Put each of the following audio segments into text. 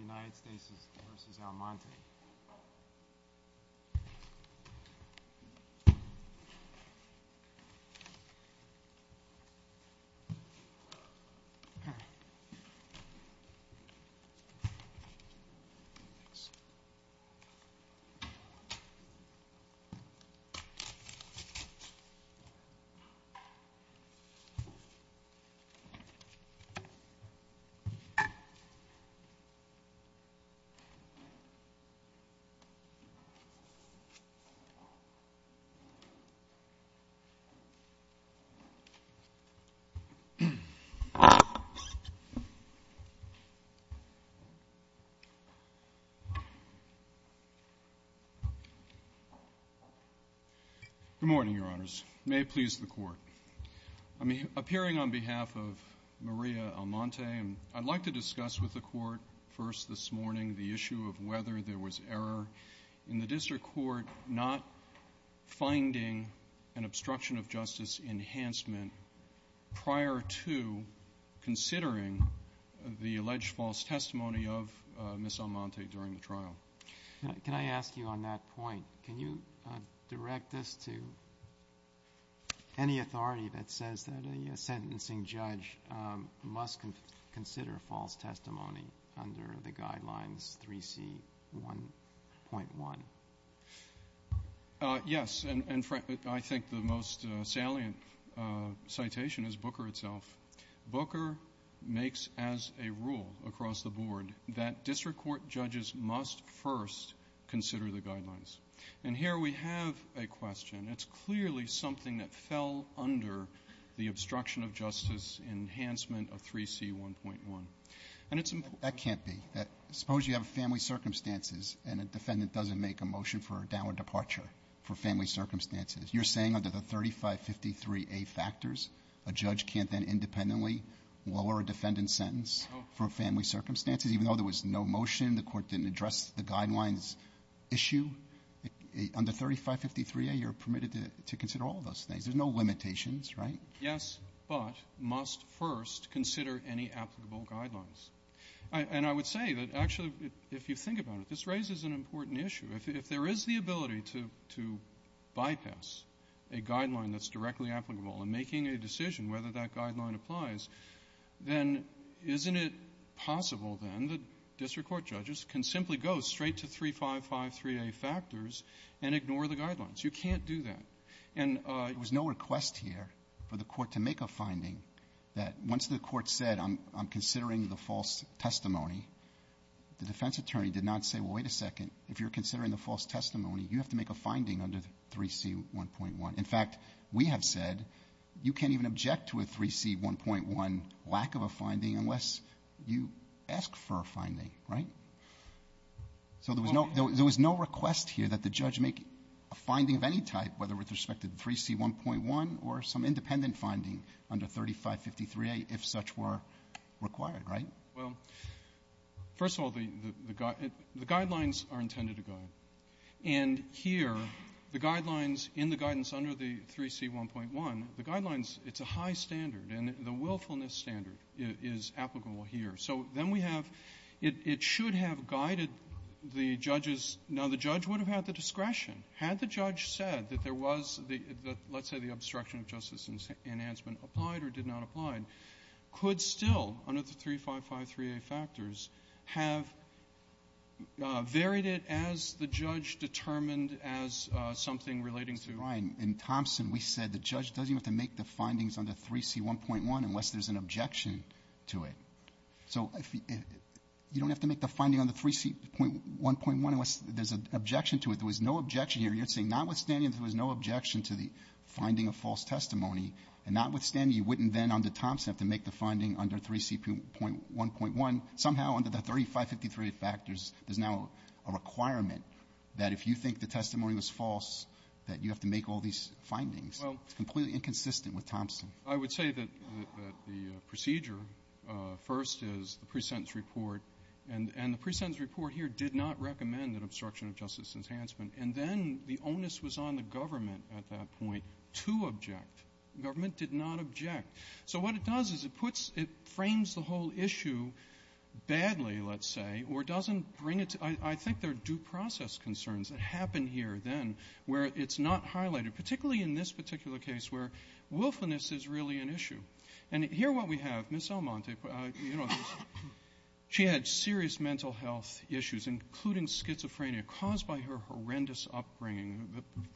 United States v. Almonte Good morning, Your Honors. May it please the Court, I'm appearing on behalf of Maria Almonte, and I'd like to discuss with the Court first this morning the issue of whether there was error in the district court not finding an obstruction of justice enhancement prior to considering the alleged false testimony of Ms. Almonte during the trial. Breyer. Can I ask you on that point, can you direct this to any authority that says that a sentencing judge must consider false testimony under the Guidelines 3C.1.1? Yes, and I think the most salient citation is Booker itself. Booker makes as a rule across the board that district court judges must first consider the Guidelines. And here we have a question. It's clearly something that fell under the obstruction of justice enhancement of 3C.1.1. And it's important to me to say that there was error in the during the trial. you're permitted to consider all of those things. There's no limitations, right? Yes, but must first consider any applicable guidelines. And I would say that actually if you think about it, this raises an important issue. If there is the ability to bypass a guideline that's directly applicable and making a decision whether that guideline applies, then isn't it possible then that district court judges can simply go straight to 3553A factors and ignore the guidelines? You can't do that. And there was no request here for the Court to make a finding that once the Court said I'm considering the false testimony, the defense attorney did not say, well, wait a second, if you're considering the false testimony, you have to make a finding under 3C.1.1. In fact, we have said you can't even object to a 3C.1.1 lack of a finding unless you ask for a finding, right? So there was no request here that the judge make a finding of any type, whether with respect to 3C.1.1 or some independent finding under 3553A if such were required, right? Well, first of all, the guidelines are intended to guide. And here, the guidelines in the guidance under the 3C.1.1, the guidelines, it's a high standard, and the willfulness standard is applicable here. So then we have, it should have guided the judges. Now, the judge would have had the discretion. Had the judge said that there was the let's say the obstruction of justice enhancement applied or did not apply, could still, under the 3553A factors, have varied it as the judge determined as something relating to. Roberts, in Thompson we said the judge doesn't have to make the findings under 3C.1.1 unless there's an objection to it. So you don't have to make the finding on the 3C.1.1 unless there's an objection to it. There was no objection here. You're saying notwithstanding there was no objection to the finding of false testimony, and notwithstanding you wouldn't then under Thompson have to make the finding under 3C.1.1. Somehow under the 3553A factors, there's now a requirement that if you think the testimony was false, that you have to make all these findings. It's completely inconsistent with Thompson. I would say that the procedure, first, is the presentence report. And the presentence report here did not recommend an obstruction of justice enhancement. And then the onus was on the government at that point to object. The government did not object. So what it does is it puts the whole issue badly, let's say, or doesn't bring it to you. I think there are due process concerns that happen here then where it's not highlighted, particularly in this particular case where willfulness is really an issue. And here what we have, Ms. Almonte, you know, she had serious mental health issues, including schizophrenia, caused by her horrendous upbringing,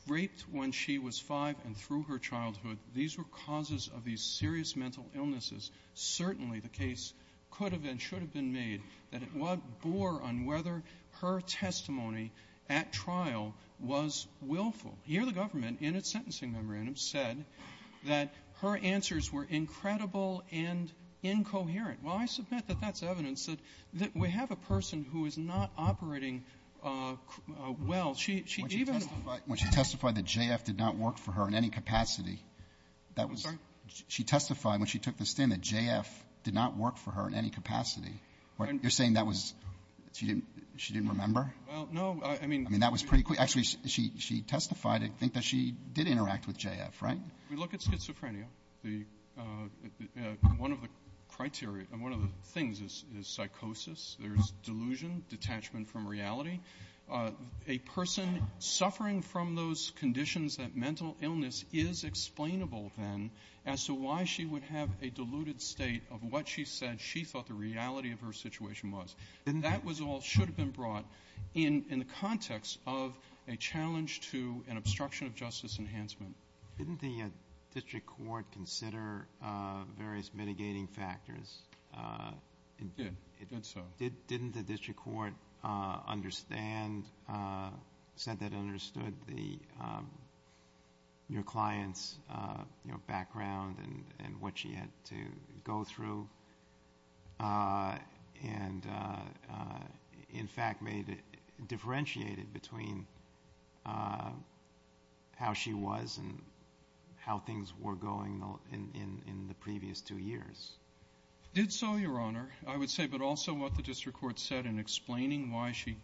raped when she was 5 and through her childhood. These were causes of these serious mental illnesses. Certainly the case could have been, should have been made that it bore on whether or not her testimony at trial was willful. Here the government, in its sentencing memorandum, said that her answers were incredible and incoherent. Well, I submit that that's evidence that we have a person who is not operating well. She even ---- Alito, when she testified that JF did not work for her in any capacity, that was ---- Alito, she testified when she took the stand that JF did not work for her in any capacity. You're saying that was, she didn't remember? Well, no, I mean ---- I mean, that was pretty quick. Actually, she testified to think that she did interact with JF, right? We look at schizophrenia. One of the criteria, one of the things is psychosis. There's delusion, detachment from reality. A person suffering from those conditions that mental illness is explainable then as to why she would have a deluded state of mind. So what she said, she thought the reality of her situation was. Didn't the ---- That was all should have been brought in the context of a challenge to an obstruction of justice enhancement. Didn't the district court consider various mitigating factors? It did. It did so. Didn't the district court understand, said that it understood the ---- your client's background and what she had to go through and in fact made it, differentiated between how she was and how things were going in the previous two years? Did so, Your Honor. I would say, but also what the district court said in explaining why she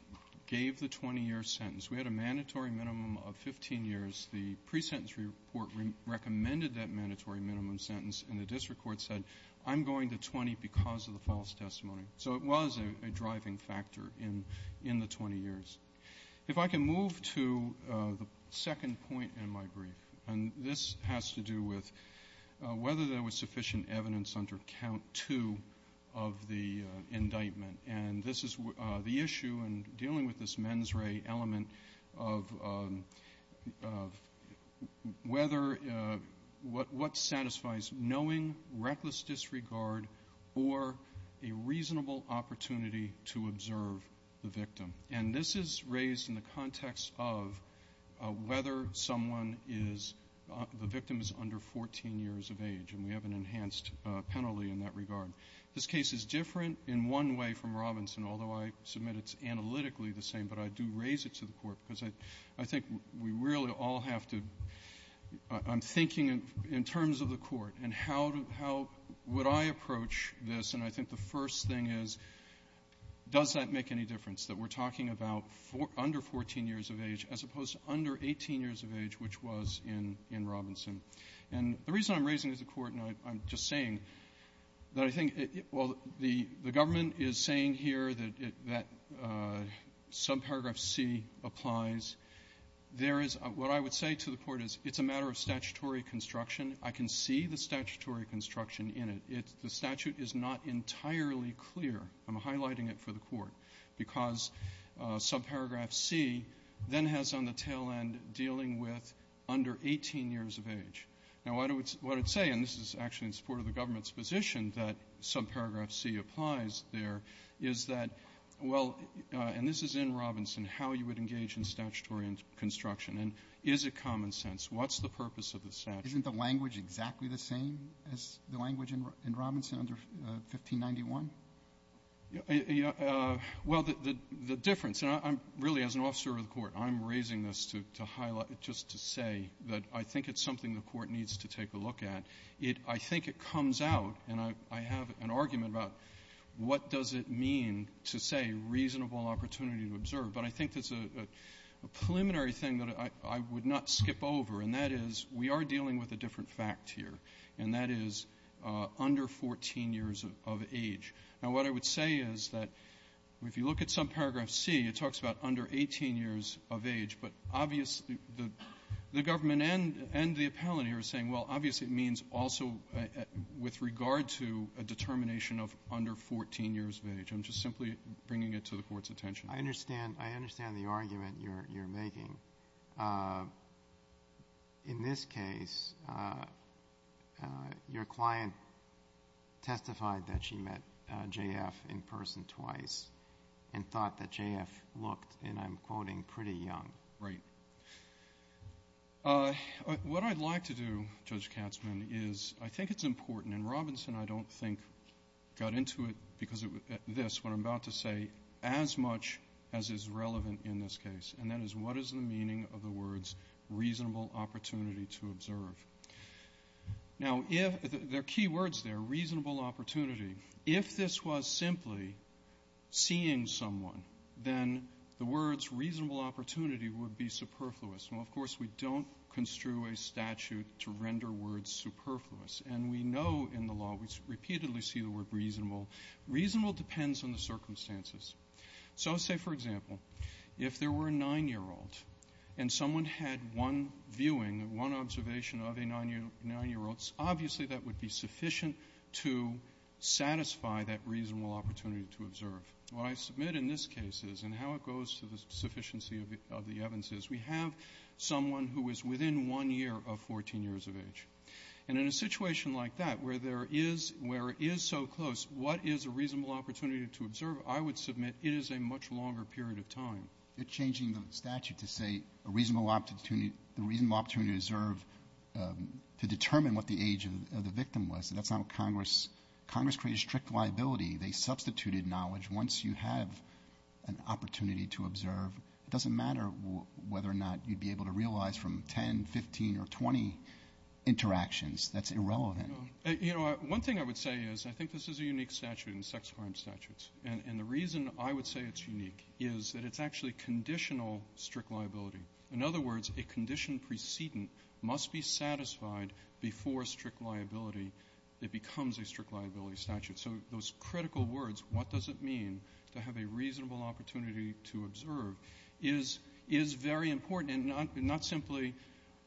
gave the 20-year sentence. We had a mandatory minimum of 15 years. The pre-sentence report recommended that mandatory minimum sentence and the district court said, I'm going to 20 because of the false testimony. So it was a driving factor in the 20 years. If I can move to the second point in my brief, and this has to do with whether there was sufficient evidence under count two of the indictment. And this is the issue in dealing with this mens re element of whether what satisfies knowing reckless disregard or a reasonable opportunity to observe the victim. And this is raised in the context of whether someone is, the victim is under 14 years of age. And we have an enhanced penalty in that regard. This case is different in one way from Robinson, although I submit it's analytically the same, but I do raise it to the Court because I think we really all have to, I'm thinking in terms of the Court and how would I approach this. And I think the first thing is, does that make any difference that we're talking about under 14 years of age as opposed to under 18 years of age, which was in Robinson? And the reason I'm raising it to the Court, and I'm just saying that I think, well, the government is saying here that subparagraph C applies. There is, what I would say to the Court is it's a matter of statutory construction. I can see the statutory construction in it. The statute is not entirely clear. I'm highlighting it for the Court because subparagraph C then has on the tail end dealing with under 18 years of age. Now, what I would say, and this is actually in support of the government's position that subparagraph C applies there, is that, well, and this is in Robinson, how you would engage in statutory construction. And is it common sense? What's the purpose of the statute? Roberts. Isn't the language exactly the same as the language in Robinson under 1591? Well, the difference, and I'm really, as an officer of the Court, I'm raising this to highlight, just to say that I think it's something the Court needs to take a look at. I think it comes out, and I have an argument about what does it mean to say reasonable opportunity to observe. But I think it's a preliminary thing that I would not skip over, and that is we are Now, what I would say is that if you look at subparagraph C, it talks about under 18 years of age, but obviously the government and the appellant here are saying, well, obviously it means also with regard to a determination of under 14 years of age. I'm just simply bringing it to the Court's attention. I understand. I understand the argument you're making. In this case, your client testified that she met J.F. in person twice and thought that J.F. looked, and I'm quoting, pretty young. Right. What I'd like to do, Judge Katzmann, is I think it's important, and Robinson I don't think got into it because of this, what I'm about to say as much as is relevant in this case, and that is what is the meaning of the words reasonable opportunity to observe? Now, there are key words there, reasonable opportunity. If this was simply seeing someone, then the words reasonable opportunity would be superfluous. Now, of course, we don't construe a statute to render words superfluous, and we know in the law, we repeatedly see the word reasonable. Reasonable depends on the circumstances. So say, for example, if there were a nine-year-old and someone had one viewing, one observation of a nine-year-old, obviously that would be sufficient to satisfy that reasonable opportunity to observe. What I submit in this case is, and how it goes to the sufficiency of the evidence is, we have someone who is within one year of 14 years of age. And in a situation like that, where there is so close, what is a reasonable opportunity to observe? You're changing the statute to say a reasonable opportunity to observe to determine what the age of the victim was. That's not what Congress, Congress created strict liability. They substituted knowledge. Once you have an opportunity to observe, it doesn't matter whether or not you'd be able to realize from 10, 15, or 20 interactions, that's irrelevant. You know, one thing I would say is, I think this is a unique statute in sex crime statutes. And the reason I would say it's unique is that it's actually conditional strict liability. In other words, a condition precedent must be satisfied before strict liability. It becomes a strict liability statute. So those critical words, what does it mean to have a reasonable opportunity to observe, is very important and not simply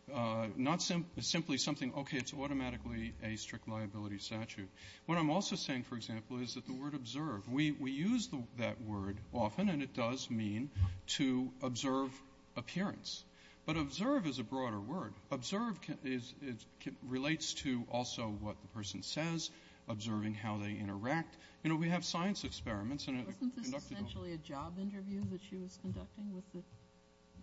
something, okay, it's automatically a strict liability statute. What I'm also saying, for example, is that the word observe, we use that word often, and it does mean to observe appearance. But observe is a broader word. Observe relates to also what the person says, observing how they interact. You know, we have science experiments, and I've conducted them. Kagan. Kagan. Wasn't this essentially a job interview that she was conducting with the ----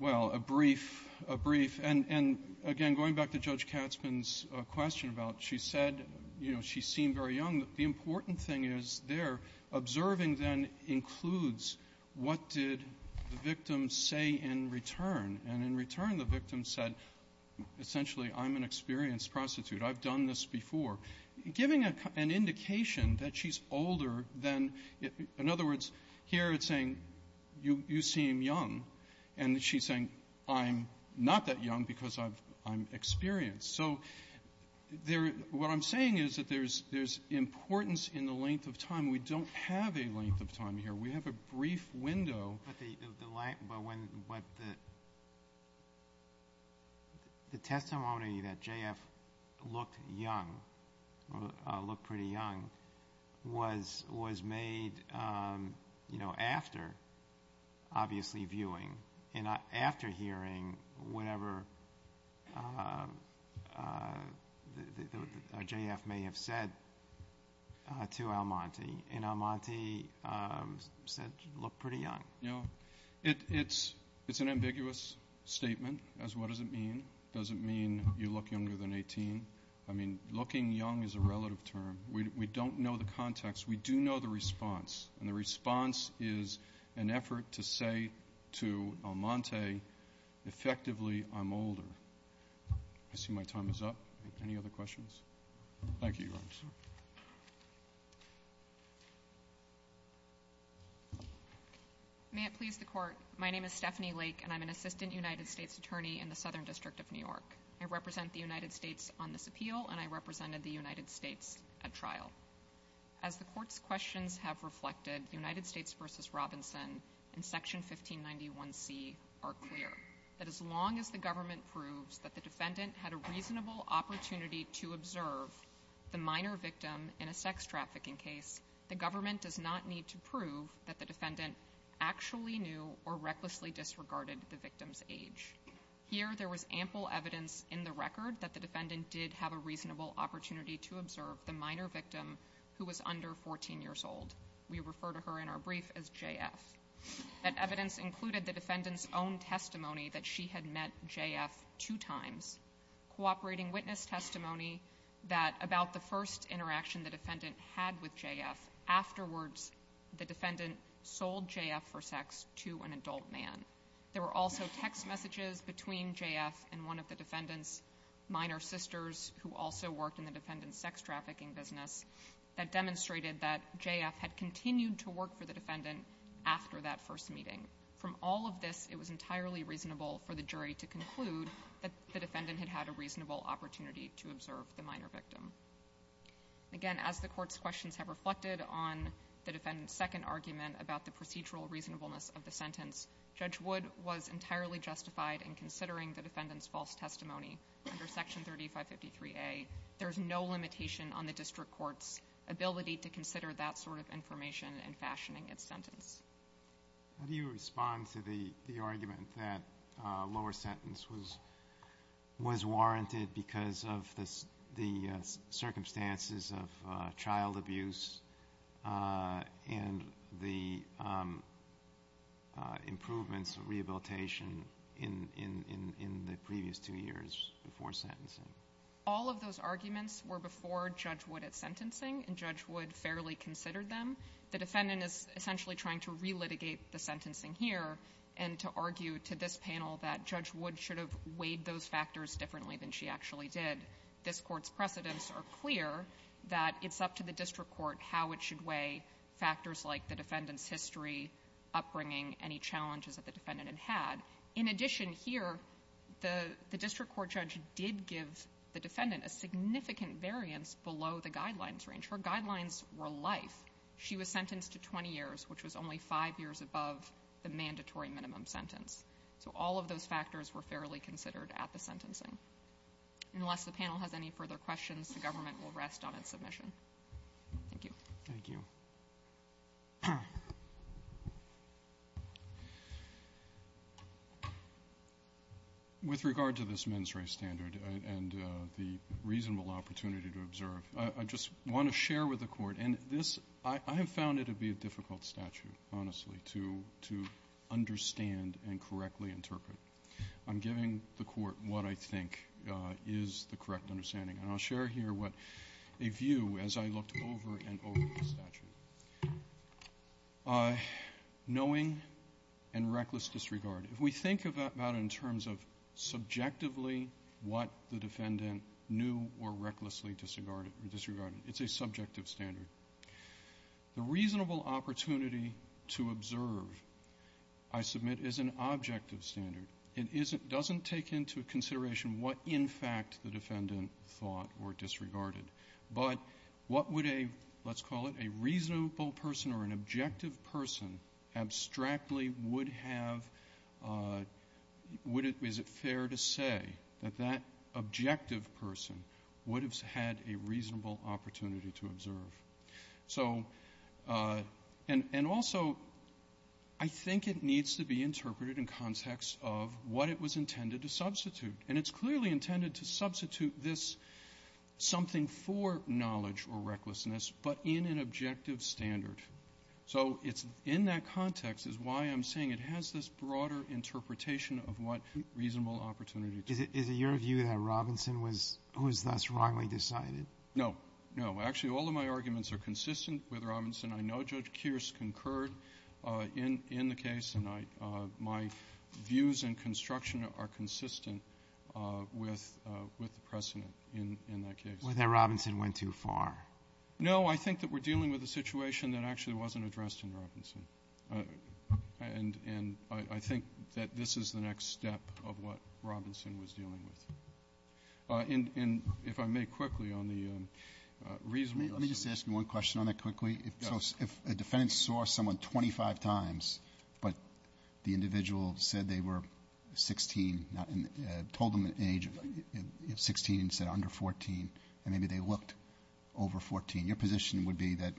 Well, a brief, a brief. And again, going back to Judge Katzmann's question about what she said, you know, she seemed very young, the important thing is there observing then includes what did the victim say in return. And in return, the victim said, essentially, I'm an experienced prostitute. I've done this before. Giving an indication that she's older than ---- In other words, here it's saying, you seem young. And she's saying, I'm not that young because I'm experienced. So what I'm saying is that there's importance in the length of time. We don't have a length of time here. We have a brief window. But the testimony that J.F. looked young, looked pretty young, was made, you know, after, obviously, viewing, and after hearing whatever J.F. may have said to Almonte. And Almonte said, you look pretty young. It's an ambiguous statement as what does it mean. Does it mean you look younger than 18? I mean, looking young is a relative term. We don't know the context. We do know the response. And the response is an effort to say to Almonte, effectively, I'm older. I see my time is up. Any other questions? Thank you, Your Honors. May it please the Court, my name is Stephanie Lake, and I'm an Assistant United States Attorney in the Southern District of New York. I represent the United States on this appeal, and I represented the United States at trial. As the Court's questions have reflected, United States v. Robinson and Section 1591C are clear that as long as the government proves that the defendant had a reasonable opportunity to observe the minor victim in a sex trafficking case, the government does not need to prove that the defendant actually knew or recklessly disregarded the victim's age. Here, there was ample evidence in the record that the defendant did have a reasonable opportunity to observe the minor victim who was under 14 years old. We refer to her in our brief as J.F. That evidence included the defendant's own testimony that she had met J.F. two times, cooperating witness testimony about the first interaction the defendant had with J.F. Afterwards, the defendant sold J.F. for sex to an adult man. There were also text messages between J.F. and one of the defendant's minor sisters who also worked in the defendant's sex trafficking business that demonstrated that J.F. had continued to work for the defendant after that first meeting. From all of this, it was entirely reasonable for the jury to conclude that the defendant had had a reasonable opportunity to observe the minor victim. Again, as the Court's questions have reflected on the defendant's second argument about the procedural reasonableness of the sentence, Judge Wood was entirely justified in considering the defendant's false testimony under Section 3553A. There's no limitation on the district court's ability to consider that sort of information in fashioning its sentence. How do you respond to the argument that a lower sentence was warranted because of the circumstances of child abuse and the improvements of rehabilitation in the previous two years before sentencing? All of those arguments were before Judge Wood at sentencing, and Judge Wood fairly considered them. The defendant is essentially trying to relitigate the sentencing here and to argue to this panel that Judge Wood should have weighed those factors differently than she actually did. This Court's precedents are clear that it's up to the district court how it should weigh factors like the defendant's history, upbringing, any challenges that the defendant had had. In addition here, the district court judge did give the defendant a significant variance below the guidelines range. Her guidelines were life. She was sentenced to 20 years, which was only five years above the mandatory minimum sentence. So all of those factors were fairly considered at the sentencing. Unless the panel has any further questions, the government will rest on its submission. Thank you. Thank you. With regard to this mens re standard and the reasonable opportunity to observe, I just want to share with the Court, and this — I have found it to be a difficult statute, honestly, to understand and correctly interpret. I'm giving the Court what I think is the correct understanding. And I'll share here what a view, as I looked over and over the statute. Knowing and reckless disregard. If we think about it in terms of subjectively what the defendant knew or recklessly disregarded, it's a subjective standard. The reasonable opportunity to observe, I submit, is an objective standard. It isn't — doesn't take into consideration what, in fact, the defendant thought or disregarded. But what would a — let's call it a reasonable person or an objective person abstractly would have — would it — is it fair to say that that objective person would have had a reasonable opportunity to observe? So — and also, I think it needs to be interpreted in context of what it was intended to substitute. And it's clearly intended to substitute this something for knowledge or recklessness, but in an objective standard. So it's — in that context is why I'm saying it has this broader interpretation of what reasonable opportunity to observe is. Is it your view that Robinson was — was thus wrongly decided? No. No. Actually, all of my arguments are consistent with Robinson. I know Judge Kearse concurred in the case, and I — my views in construction are consistent with the precedent in that case. Whether Robinson went too far. No. I think that we're dealing with a situation that actually wasn't addressed in Robinson. And I think that this is the next step of what Robinson was dealing with. And if I may quickly on the reasonable — Let me just ask you one question on that quickly. So if a defendant saw someone 25 times, but the individual said they were 16, told them the age of 16 and said under 14, and maybe they looked over 14, your position would be that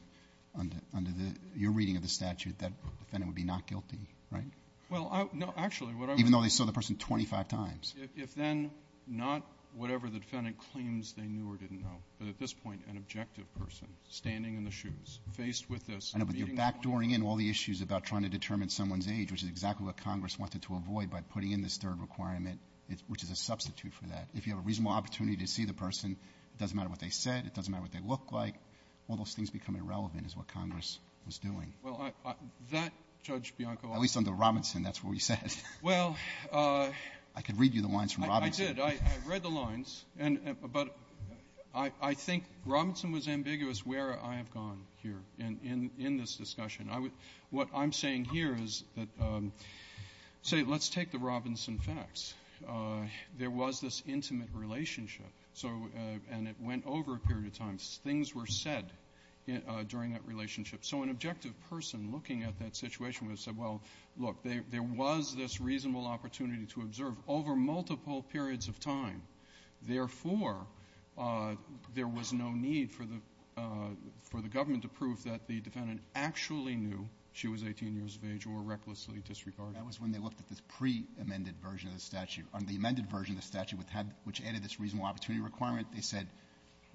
under the — your reading of the statute, that defendant would be not guilty, right? Well, no. Actually, what I would — Even though they saw the person 25 times. If then not whatever the defendant claims they knew or didn't know. But at this point, an objective person standing in the shoes, faced with this — I know, but you're backdooring in all the issues about trying to determine someone's age, which is exactly what Congress wanted to avoid by putting in this third requirement, which is a substitute for that. If you have a reasonable opportunity to see the person, it doesn't matter what they said, it doesn't matter what they look like, all those things become irrelevant is what Congress was doing. Well, that, Judge Bianco — At least under Robinson, that's what we said. Well — I could read you the lines from Robinson. I did. I read the lines. But I think Robinson was ambiguous where I have gone here in this discussion. What I'm saying here is that, say, let's take the Robinson facts. There was this intimate relationship. So — and it went over a period of time. Things were said during that relationship. So an objective person looking at that situation would have said, well, look, there was this reasonable opportunity to observe over multiple periods of time. Therefore, there was no need for the — for the government to prove that the defendant actually knew she was 18 years of age or recklessly disregarded. That was when they looked at the pre-amended version of the statute. On the amended version of the statute, which added this reasonable opportunity requirement, they said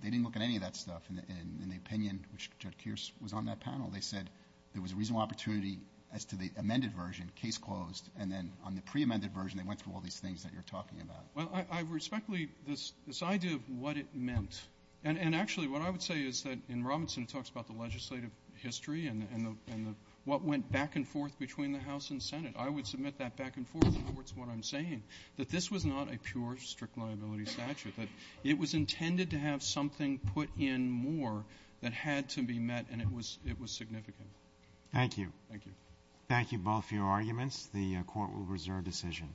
they didn't look at any of that stuff. In the opinion, which Judge Kearse was on that panel, they said there was a reasonable opportunity as to the amended version, case closed. And then on the pre-amended version, they went through all these things that you're talking about. Well, I respectfully — this idea of what it meant. And actually, what I would say is that in Robinson, it talks about the legislative history and the — what went back and forth between the House and Senate. I would submit that back and forth towards what I'm saying, that this was not a pure strict liability statute, that it was intended to have something put in more that had to be met, and it was — it was significant. Thank you. Thank you. Thank you both for your arguments. The Court will reserve decision.